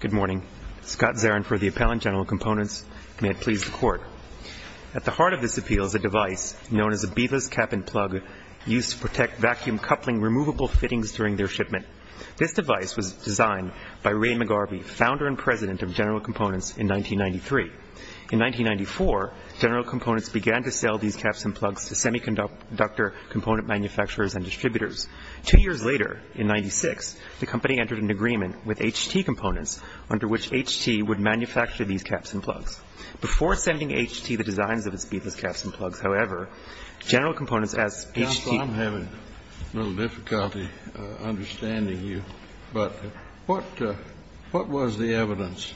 Good morning. Scott Zarin for the Appellant General Components. May it please the Court. At the heart of this appeal is a device known as a Beaver's Cap and Plug, used to protect vacuum coupling removable fittings during their shipment. This device was designed by Ray McGarvey, founder and president of General Components, in 1993. In 1994, General Components began to sell these caps and plugs to semiconductor component manufacturers and distributors. Two years later, in 1996, the company entered an agreement with H.T. Components, under which H.T. would manufacture these caps and plugs. Before sending H.T. the designs of its Beaver's Caps and Plugs, however, General Components, as H.T. I'm having a little difficulty understanding you, but what was the evidence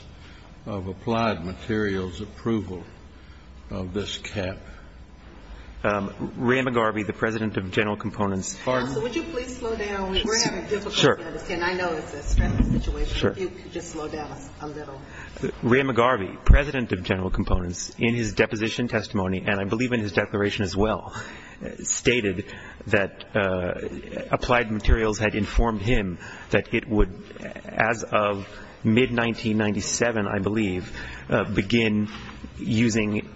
of applied materials approval of this cap? Ray McGarvey, the president of General Components Counsel, would you please slow down? We're having difficulty understanding. I know it's a stressful situation. If you could just slow down a little. Ray McGarvey, president of General Components, in his deposition testimony, and I believe in his declaration as well, stated that applied materials had informed him that it would, as of mid-1997, I believe, begin using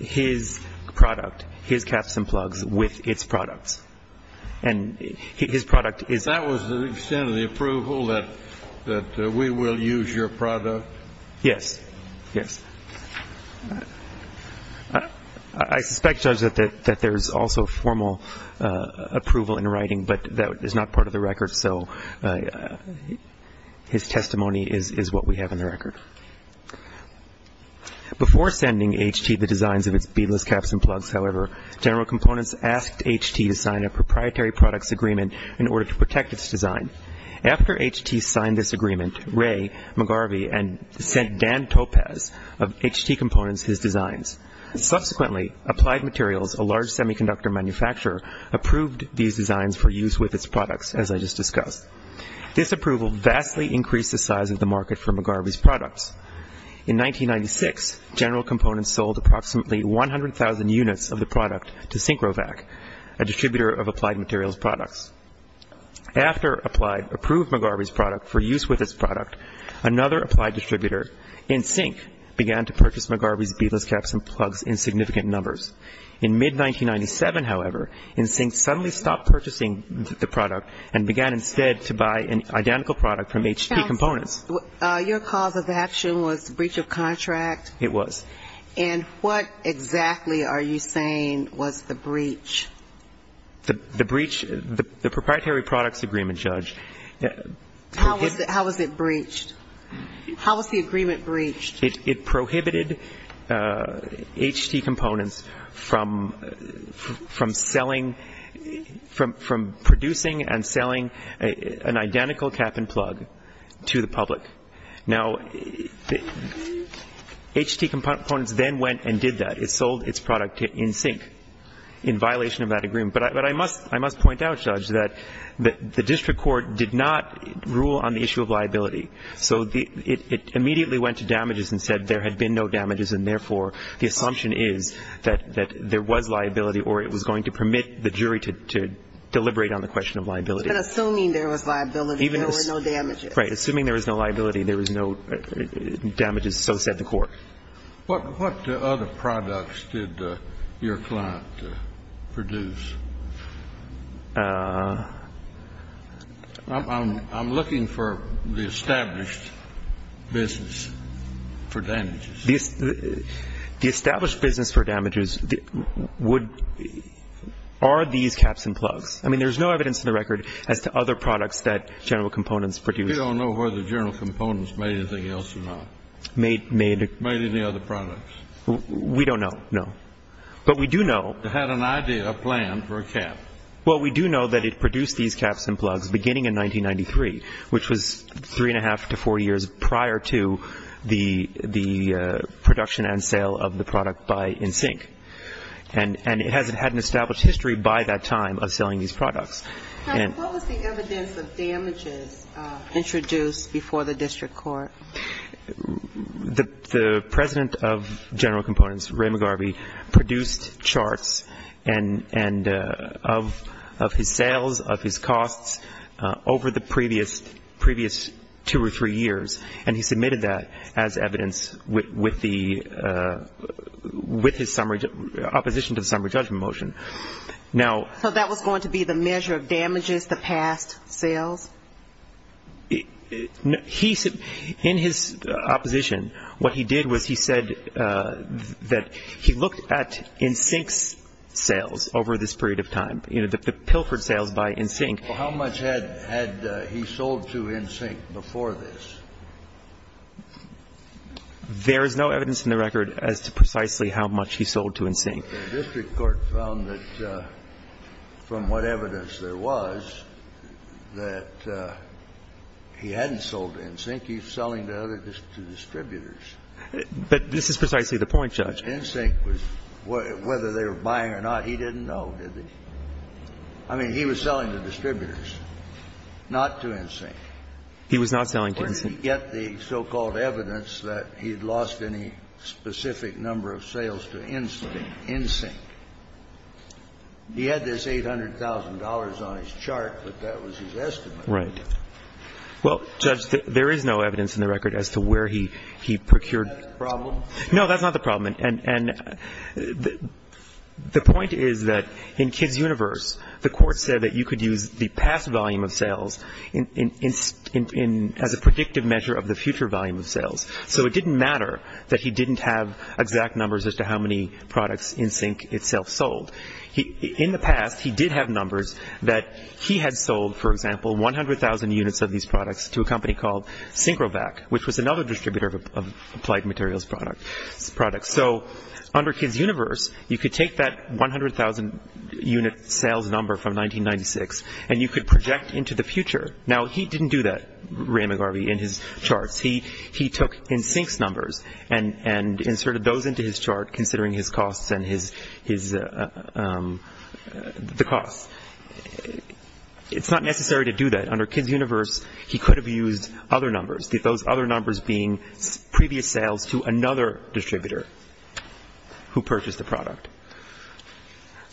his product, his caps and plugs, with its products. And his product is- That was the extent of the approval, that we will use your product? Yes. Yes. I suspect, Judge, that there's also formal approval in writing, but that is not part of the record, so his testimony is what we have in the record. Before sending H.T. the designs of its Beaver's Caps and Plugs, however, General Components asked H.T. to sign a proprietary products agreement in order to protect its design. After H.T. signed this agreement, Ray McGarvey sent Dan Topaz of H.T. Components his designs. Subsequently, Applied Materials, a large semiconductor manufacturer, approved these designs for use with its products, as I just discussed. This approval vastly increased the size of the market for McGarvey's products. In 1996, General Components sold approximately 100,000 units of the product to SynchroVac, a distributor of Applied Materials products. After Applied approved McGarvey's product for use with its product, another Applied distributor, NSYNC, began to purchase McGarvey's Beaver's Caps and Plugs in significant numbers. In mid-1997, however, NSYNC suddenly stopped purchasing the product and began instead to buy an identical product from H.T. Components. Your cause of action was breach of contract? It was. And what exactly are you saying was the breach? The breach, the proprietary products agreement, Judge. How was it breached? How was the agreement breached? It prohibited H.T. Components from selling, from producing and selling an identical cap and plug to the public. Now, H.T. Components then went and did that. It sold its product to NSYNC in violation of that agreement. But I must point out, Judge, that the district court did not rule on the issue of liability. So it immediately went to damages and said there had been no damages and, therefore, the assumption is that there was liability or it was going to permit the jury to deliberate on the question of liability. But assuming there was liability, there were no damages. Right. Assuming there was no liability, there was no damages. So said the court. What other products did your client produce? I'm looking for the established business for damages. The established business for damages would be, are these caps and plugs? I mean, there's no evidence in the record as to other products that General Components produced. We don't know whether General Components made anything else or not. Made any other products? We don't know, no. But we do know. They had an idea, a plan for a cap. Well, we do know that it produced these caps and plugs beginning in 1993, which was three and a half to four years prior to the production and sale of the product by NSYNC. And it hasn't had an established history by that time of selling these products. What was the evidence of damages introduced before the district court? The President of General Components, Ray McGarvey, produced charts of his sales, of his costs, over the previous two or three years. And he submitted that as evidence with his summary, opposition to the summary judgment motion. So that was going to be the measure of damages, the past sales? In his opposition, what he did was he said that he looked at NSYNC's sales over this period of time, you know, the pilfered sales by NSYNC. How much had he sold to NSYNC before this? There is no evidence in the record as to precisely how much he sold to NSYNC. But the district court found that from what evidence there was, that he hadn't sold to NSYNC. He was selling to other distributors. But this is precisely the point, Judge. NSYNC was — whether they were buying or not, he didn't know, did he? I mean, he was selling to distributors, not to NSYNC. He was not selling to NSYNC. He didn't get the so-called evidence that he had lost any specific number of sales to NSYNC. He had this $800,000 on his chart, but that was his estimate. Right. Well, Judge, there is no evidence in the record as to where he procured. Is that the problem? No, that's not the problem. And the point is that in Kids' Universe, the court said that you could use the past volume of sales as a predictive measure of the future volume of sales. So it didn't matter that he didn't have exact numbers as to how many products NSYNC itself sold. In the past, he did have numbers that he had sold, for example, 100,000 units of these products to a company called SyncroVac, which was another distributor of applied materials products. So under Kids' Universe, you could take that 100,000-unit sales number from 1996, and you could project into the future. Now, he didn't do that, Ray McGarvey, in his charts. He took NSYNC's numbers and inserted those into his chart, considering his costs and the costs. It's not necessary to do that. Under Kids' Universe, he could have used other numbers, those other numbers being previous sales to another distributor who purchased the product.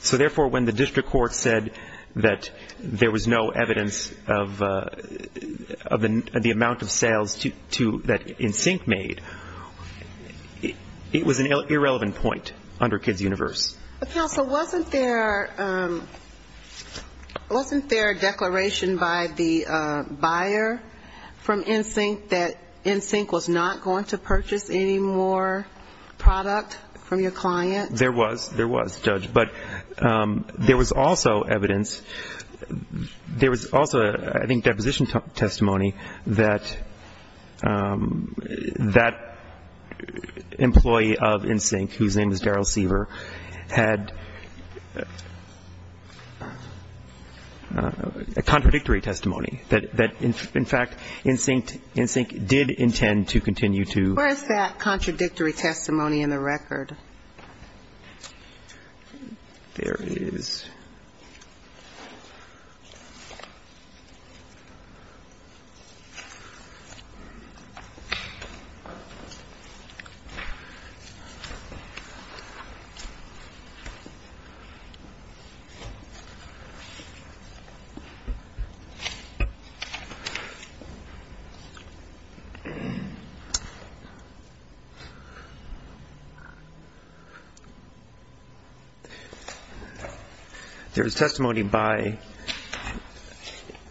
So therefore, when the district court said that there was no evidence of the amount of sales that NSYNC made, it was an irrelevant point under Kids' Universe. But, counsel, wasn't there a declaration by the buyer from NSYNC that NSYNC was not going to purchase any more product from your client? There was. There was, Judge. But there was also evidence. There was also, I think, deposition testimony that that employee of NSYNC, whose name is Darryl Seaver, had a contradictory testimony, that, in fact, NSYNC did intend to continue to ---- Where is that contradictory testimony in the record? There is. There is testimony by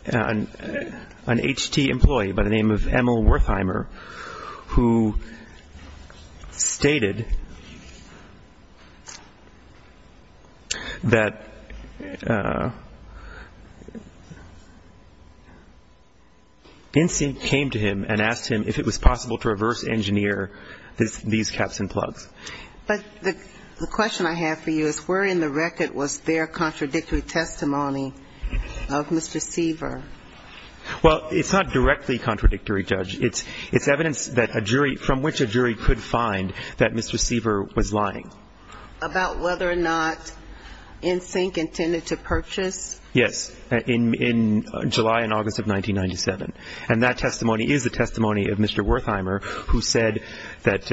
an HT employee by the name of Emil Wertheimer who stated that NSYNC came to him and asked him if it was possible to reverse engineer these caps and plugs. But the question I have for you is where in the record was their contradictory testimony of Mr. Seaver? Well, it's not directly contradictory, Judge. It's evidence that a jury ---- from which a jury could find that Mr. Seaver was lying. About whether or not NSYNC intended to purchase? Yes, in July and August of 1997. And that testimony is the testimony of Mr. Wertheimer who said that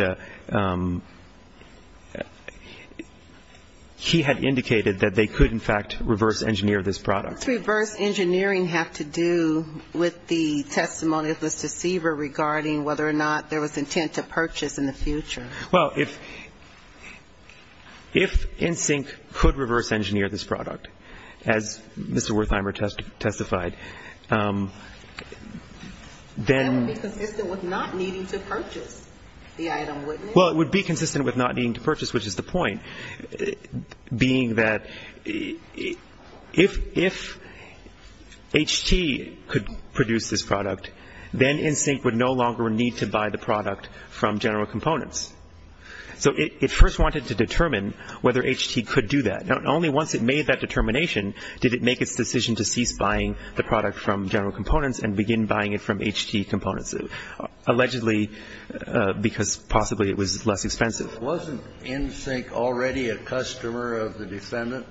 he had indicated that they could, in fact, reverse engineer this product. What does reverse engineering have to do with the testimony of Mr. Seaver regarding whether or not there was intent to purchase in the future? Well, if NSYNC could reverse engineer this product, as Mr. Wertheimer testified, then ---- That would be consistent with not needing to purchase the item, wouldn't it? Well, it would be consistent with not needing to purchase, which is the point, being that if HT could produce this product, then NSYNC would no longer need to buy the product from General Components. So it first wanted to determine whether HT could do that. Now, only once it made that determination did it make its decision to cease buying the product from General Components and begin buying it from HT Components, allegedly because possibly it was less expensive. Wasn't NSYNC already a customer of the defendant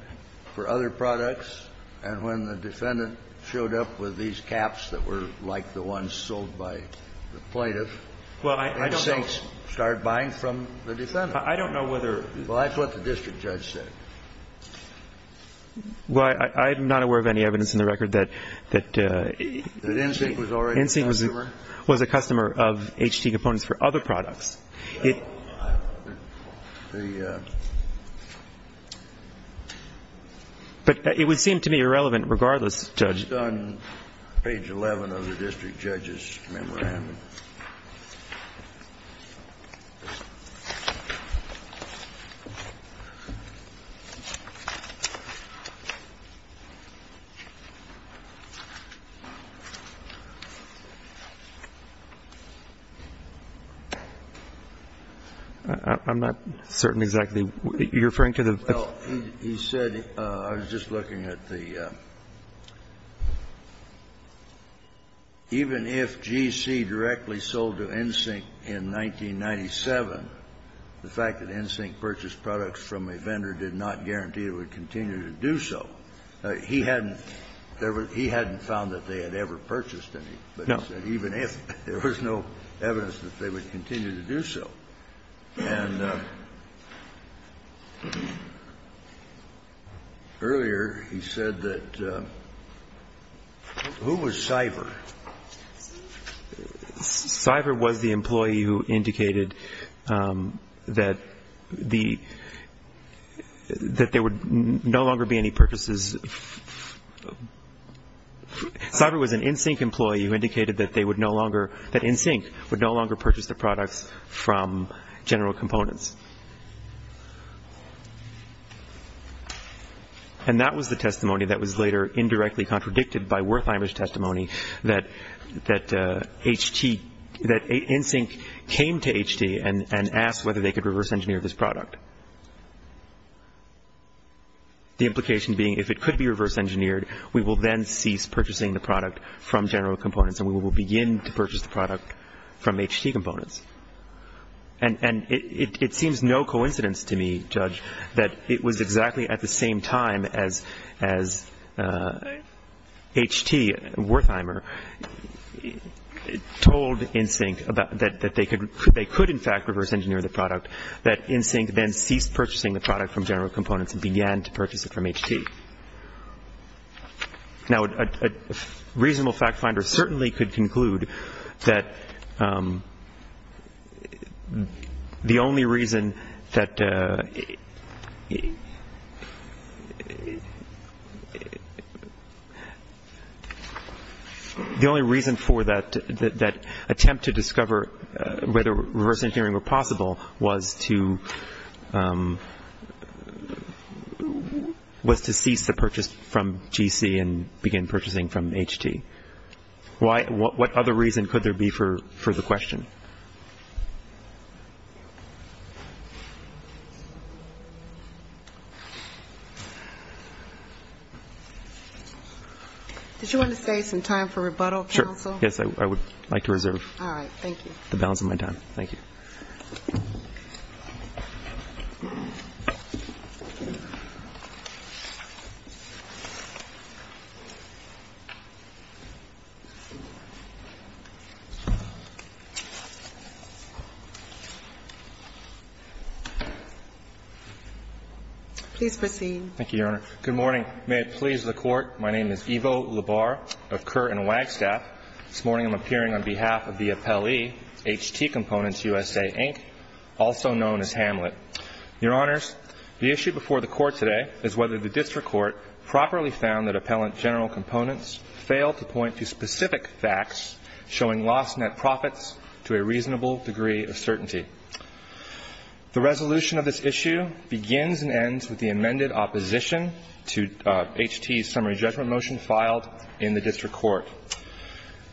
for other products? And when the defendant showed up with these caps that were like the ones sold by the plaintiff, NSYNC started buying from the defendant. I don't know whether ---- Well, that's what the district judge said. Well, I'm not aware of any evidence in the record that NSYNC was a customer of HT Components for other products. But it would seem to me irrelevant regardless, Judge. It's on page 11 of the district judge's memo. I'm not certain exactly what you're referring to. Well, he said, I was just looking at the, even if GC directly sold to NSYNC in 1997, the fact that NSYNC purchased products from a vendor did not guarantee it would continue to do so. He hadn't found that they had ever purchased any. But he said even if, there was no evidence that they would continue to do so. And earlier he said that, who was CIFR? CIFR was the employee who indicated that the, that there would no longer be any purchases. CIFR was an NSYNC employee who indicated that they would no longer, that NSYNC would no longer purchase the products from General Components. And that was the testimony that was later indirectly contradicted by Wertheimer's testimony that HT, that NSYNC came to HT and asked whether they could reverse engineer this product. The implication being if it could be reverse engineered, we will then cease purchasing the product from General Components. And we will begin to purchase the product from HT Components. And it seems no coincidence to me, Judge, that it was exactly at the same time as HT, Wertheimer, told NSYNC that they could in fact reverse engineer the product, that NSYNC then ceased purchasing the product from General Components and began to purchase it from HT. Now a reasonable fact finder certainly could conclude that the only reason that, that the only reason for that attempt to discover whether reverse engineering were possible was to, was to cease the purchase from GC and begin purchasing from HT. What other reason could there be for the question? Did you want to save some time for rebuttal, counsel? Sure. Yes, I would like to reserve the balance of my time. All right. Thank you. Please proceed. Thank you, Your Honor. Good morning. May it please the Court, my name is Ivo Labar of Kerr and Wagstaff. This morning I'm appearing on behalf of the appellee, HT Components USA, Inc., also known as Hamlet. Your Honors, the issue before the Court today is whether the district court properly found that appellant General Components failed to point to specific facts showing lost net profits to a reasonable degree of certainty. The resolution of this issue begins and ends with the amended opposition to HT's summary judgment motion filed in the district court.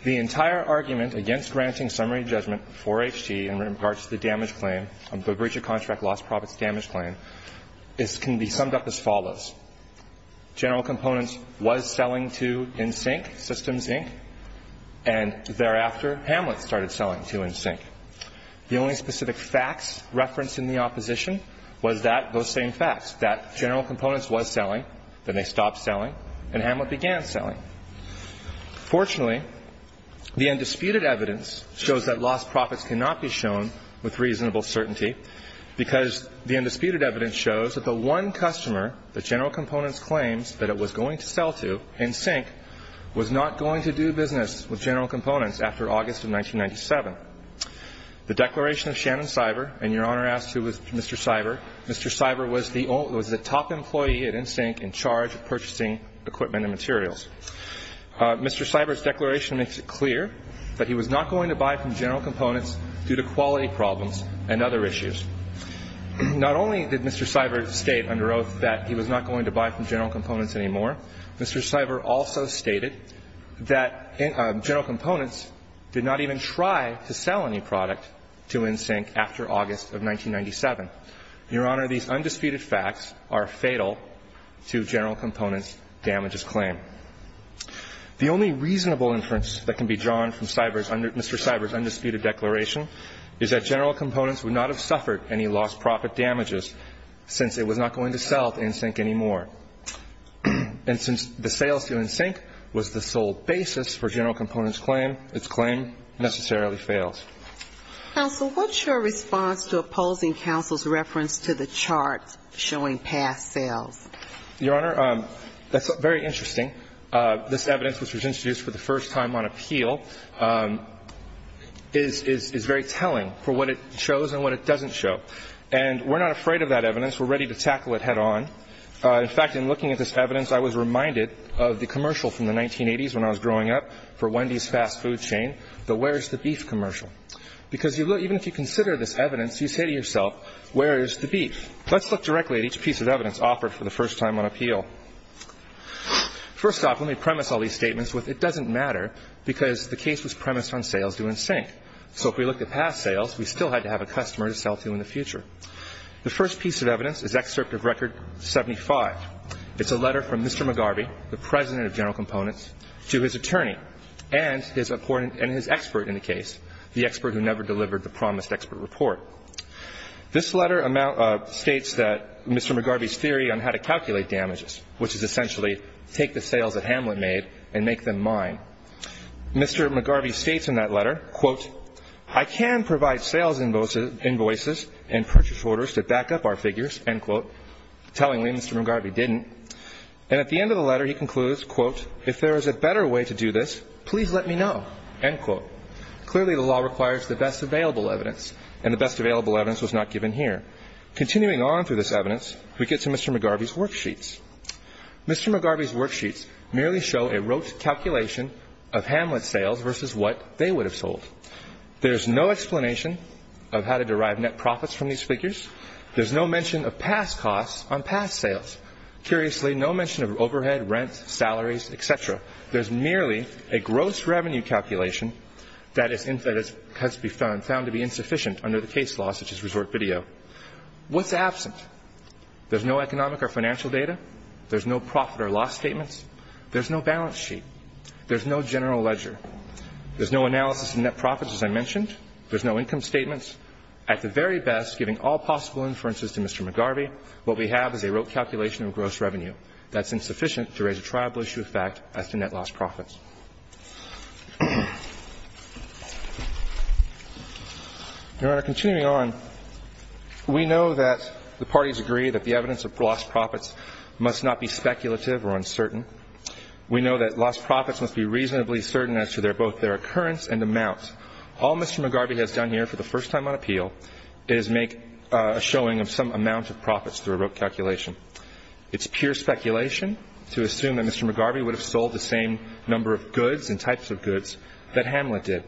The entire argument against granting summary judgment for HT in regards to the damage claim, the breach of contract lost profits damage claim, can be summed up as follows. General Components was selling to NSYNC, Systems, Inc., and thereafter Hamlet started selling to NSYNC. The only specific facts referenced in the opposition was that, those same facts, that General Components was selling, then they stopped selling, and Hamlet began selling. Fortunately, the undisputed evidence shows that lost profits cannot be shown with reasonable certainty, because the undisputed evidence shows that the one customer that General Components claims that it was going to sell to, NSYNC, was not going to do business with General Components after August of 1997. The declaration of Shannon Seiber, and Your Honor asked who was Mr. Seiber, Mr. Seiber was the top employee at NSYNC in charge of purchasing equipment and materials. Mr. Seiber's declaration makes it clear that he was not going to buy from General Components due to quality problems and other issues. Not only did Mr. Seiber state under oath that he was not going to buy from General Components anymore, Mr. Seiber also stated that General Components did not even try to sell any product to NSYNC after August of 1997. Your Honor, these undisputed facts are fatal to General Components' damages claim. The only reasonable inference that can be drawn from Seiber's under Mr. Seiber's undisputed declaration is that General Components would not have suffered any lost profit damages since it was not going to sell to NSYNC anymore. And since the sales to NSYNC was the sole basis for General Components' claim, its claim necessarily fails. Counsel, what's your response to opposing counsel's reference to the chart showing past sales? Your Honor, that's very interesting. This evidence, which was introduced for the first time on appeal, is very telling for what it shows and what it doesn't show. And we're not afraid of that evidence. We're ready to tackle it head on. In fact, in looking at this evidence, I was reminded of the commercial from the 1980s when I was growing up for Wendy's Fast Food Chain, the Where's the Beef commercial. Because even if you consider this evidence, you say to yourself, where is the beef? Let's look directly at each piece of evidence offered for the first time on appeal. First off, let me premise all these statements with it doesn't matter because the case was premised on sales to NSYNC. So if we look at past sales, we still had to have a customer to sell to in the future. The first piece of evidence is Excerpt of Record 75. It's a letter from Mr. McGarvey, the President of General Components, to his attorney and his expert in the case, the expert who never delivered the promised expert report. This letter states that Mr. McGarvey's theory on how to calculate damages, which is essentially take the sales that Hamlet made and make them mine. Mr. McGarvey states in that letter, quote, I can provide sales invoices and purchase orders to back up our figures, end quote. Tellingly, Mr. McGarvey didn't. And at the end of the letter, he concludes, quote, if there is a better way to do this, please let me know, end quote. Clearly, the law requires the best available evidence, and the best available evidence was not given here. Continuing on through this evidence, we get to Mr. McGarvey's worksheets. Mr. McGarvey's worksheets merely show a rote calculation of Hamlet sales versus what they would have sold. There's no explanation of how to derive net profits from these figures. There's no mention of past costs on past sales. Curiously, no mention of overhead, rent, salaries, et cetera. There's merely a gross revenue calculation that has been found to be insufficient under the case law, such as resort video. What's absent? There's no economic or financial data. There's no profit or loss statements. There's no balance sheet. There's no general ledger. There's no analysis of net profits, as I mentioned. There's no income statements. At the very best, giving all possible inferences to Mr. McGarvey, what we have is a rote calculation of gross revenue. That's insufficient to raise a tribal issue of fact as to net lost profits. Your Honor, continuing on, we know that the parties agree that the evidence of lost profits must not be speculative or uncertain. We know that lost profits must be reasonably certain as to both their occurrence and amount. All Mr. McGarvey has done here for the first time on appeal is make a showing of some amount of profits through a rote calculation. It's pure speculation to assume that Mr. McGarvey would have sold the same number of goods and types of goods that Hamlet did.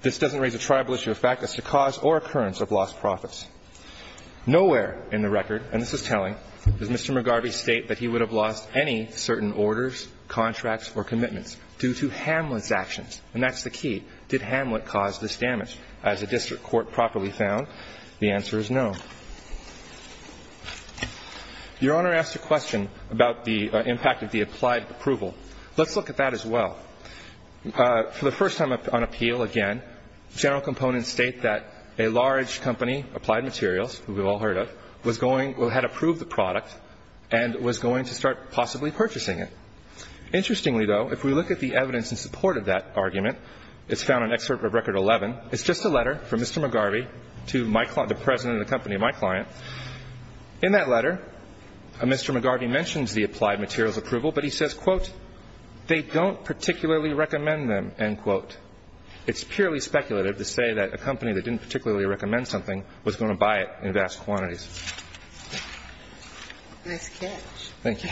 This doesn't raise a tribal issue of fact as to cause or occurrence of lost profits. Nowhere in the record, and this is telling, does Mr. McGarvey state that he would have lost any certain orders, contracts, or commitments due to Hamlet's actions, and that's the key. Did Hamlet cause this damage? As a district court properly found, the answer is no. Your Honor asked a question about the impact of the applied approval. Let's look at that as well. For the first time on appeal, again, general components state that a large company, Applied Materials, who we've all heard of, was going to have approved the product and was going to start possibly purchasing it. Interestingly, though, if we look at the evidence in support of that argument, it's found in Excerpt of Record 11. It's just a letter from Mr. McGarvey to the president of the company, my client. In that letter, Mr. McGarvey mentions the applied materials approval, but he says, quote, they don't particularly recommend them, end quote. It's purely speculative to say that a company that didn't particularly recommend something was going to buy it in vast quantities. Nice catch. Thank you.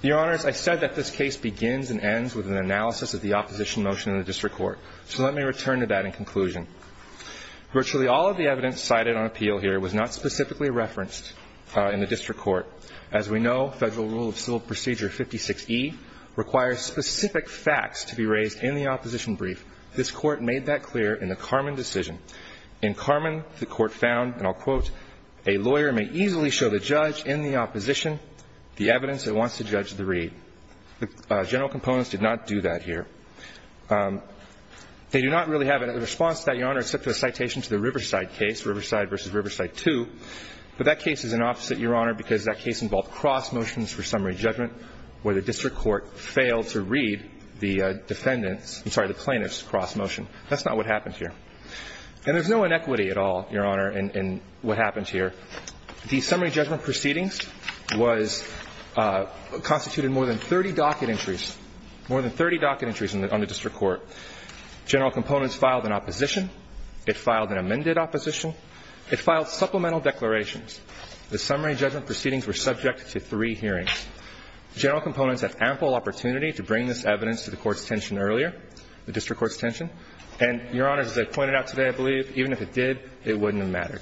Your Honors, I said that this case begins and ends with an analysis of the opposition motion in the district court. So let me return to that in conclusion. Virtually all of the evidence cited on appeal here was not specifically referenced in the district court. As we know, Federal Rule of Civil Procedure 56E requires specific facts to be raised in the opposition brief. This Court made that clear in the Carman decision. In Carman, the Court found, and I'll quote, a lawyer may easily show the judge in the opposition the evidence that wants to judge the read. The general components did not do that here. They do not really have a response to that, Your Honor, except for the citation to the Riverside case, Riverside v. Riverside 2. But that case is an opposite, Your Honor, because that case involved cross motions for summary judgment where the district court failed to read the defendant's, I'm sorry, the plaintiff's cross motion. That's not what happened here. And there's no inequity at all, Your Honor, in what happened here. The summary judgment proceedings was constituted in more than 30 docket entries, more than 30 docket entries on the district court. General components filed an opposition. It filed an amended opposition. It filed supplemental declarations. The summary judgment proceedings were subject to three hearings. General components had ample opportunity to bring this evidence to the court's attention earlier, the district court's attention. And, Your Honor, as I pointed out today, I believe even if it did, it wouldn't have mattered.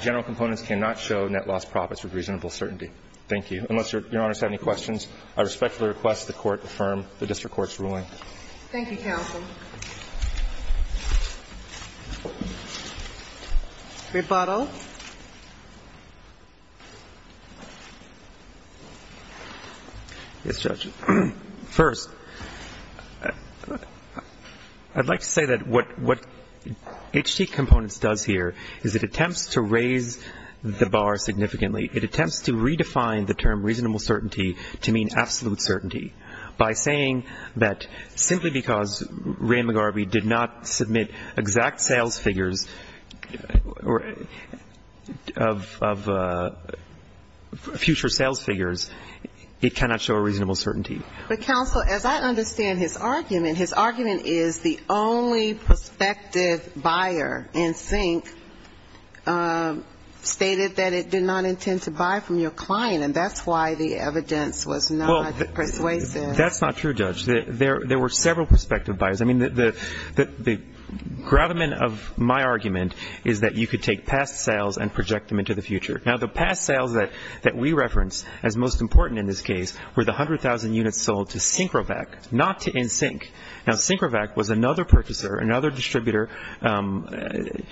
General components cannot show net loss profits with reasonable certainty. Thank you. Unless Your Honor has any questions, I respectfully request the Court affirm the district court's ruling. Thank you, counsel. Rebuttal. Yes, Judge. First, I'd like to say that what HD Components does here is it attempts to raise the bar significantly. It attempts to redefine the term reasonable certainty to mean absolute certainty. By saying that simply because Ray McGarvey did not submit exact sales figures of future sales figures, it cannot show reasonable certainty. But, counsel, as I understand his argument, his argument is the only prospective buyer in sync stated that it did not intend to buy from your client, and that's why the evidence was not persuasive. Well, that's not true, Judge. There were several prospective buyers. I mean, the gravamen of my argument is that you could take past sales and project them into the future. Now, the past sales that we reference as most important in this case were the 100,000 units sold to SyncroVac, not to NSYNC. Now, SyncroVac was another purchaser, another distributor that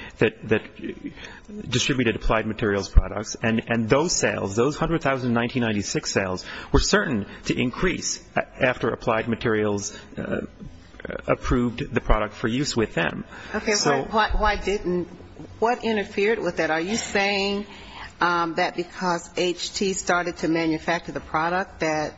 distributed applied materials products, and those sales, those 100,000 1996 sales were certain to increase after applied materials approved the product for use with them. Okay. Why didn't you? What interfered with that? Are you saying that because HT started to manufacture the product that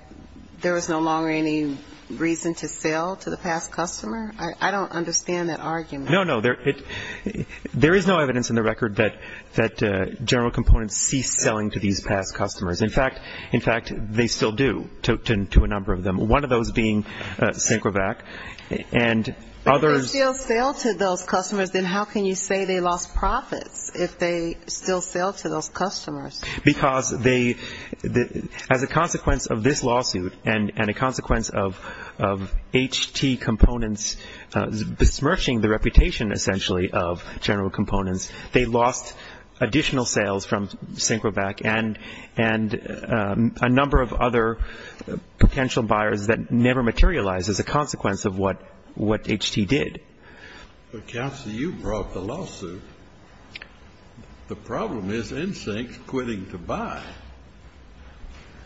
there was no longer any reason to sell to the past customer? I don't understand that argument. No, no. There is no evidence in the record that general components ceased selling to these past customers. In fact, they still do to a number of them, one of those being SyncroVac, and others --. Why didn't they still sell to those customers? Because they, as a consequence of this lawsuit and a consequence of HT components besmirching the reputation essentially of general components, they lost additional sales from SyncroVac and a number of other potential buyers that never materialized as a consequence of what HT did. Counsel, you brought the lawsuit. The problem is NSYNC quitting to buy.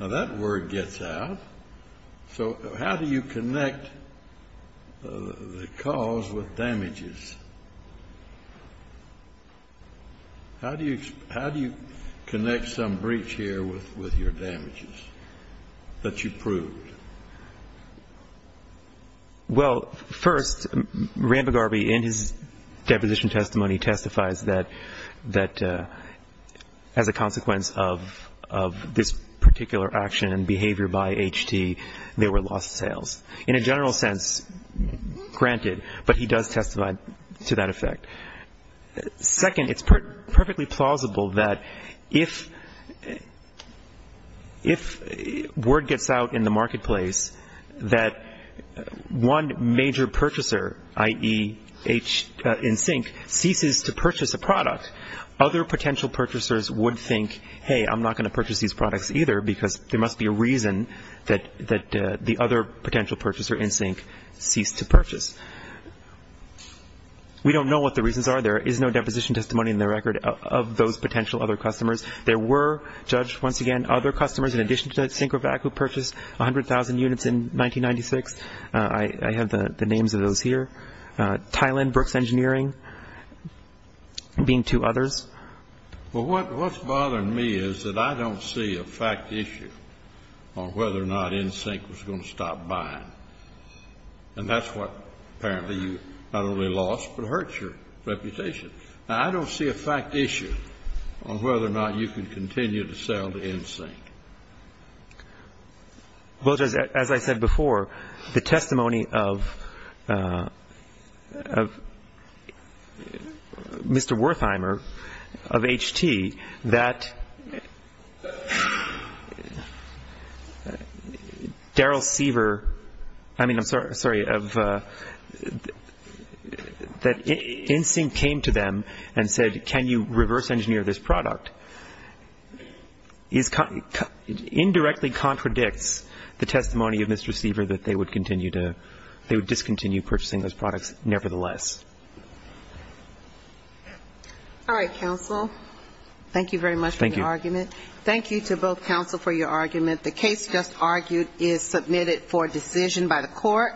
Now, that word gets out. So how do you connect the cause with damages? How do you connect some breach here with your damages that you proved? Well, first, Rambogarby in his deposition testimony testifies that as a consequence of this particular action and behavior by HT, they were lost sales. In a general sense, granted, but he does testify to that effect. Second, it's perfectly plausible that if word gets out in the marketplace that one major purchaser, i.e., NSYNC, ceases to purchase a product, other potential purchasers would think, hey, I'm not going to purchase these products either because there must be a reason that the other potential purchaser, NSYNC, ceased to purchase. We don't know what the reasons are. There is no deposition testimony in the record of those potential other customers. There were, Judge, once again, other customers in addition to SyncroVac who purchased 100,000 units in 1996. I have the names of those here. Thailand Brooks Engineering being two others. Well, what's bothering me is that I don't see a fact issue on whether or not NSYNC was going to stop buying. And that's what apparently you not only lost but hurt your reputation. Now, I don't see a fact issue on whether or not you can continue to sell to NSYNC. Well, Judge, as I said before, the testimony of Mr. Wertheimer of HT that Daryl Siever, I mean, I'm sorry, of that NSYNC came to them and said, can you reverse engineer this product, indirectly contradicts the testimony of Mr. Siever that they would continue to, they would discontinue purchasing those products nevertheless. All right, counsel. Thank you very much for your argument. Thank you. Thank you to both counsel for your argument. The case just argued is submitted for decision by the court.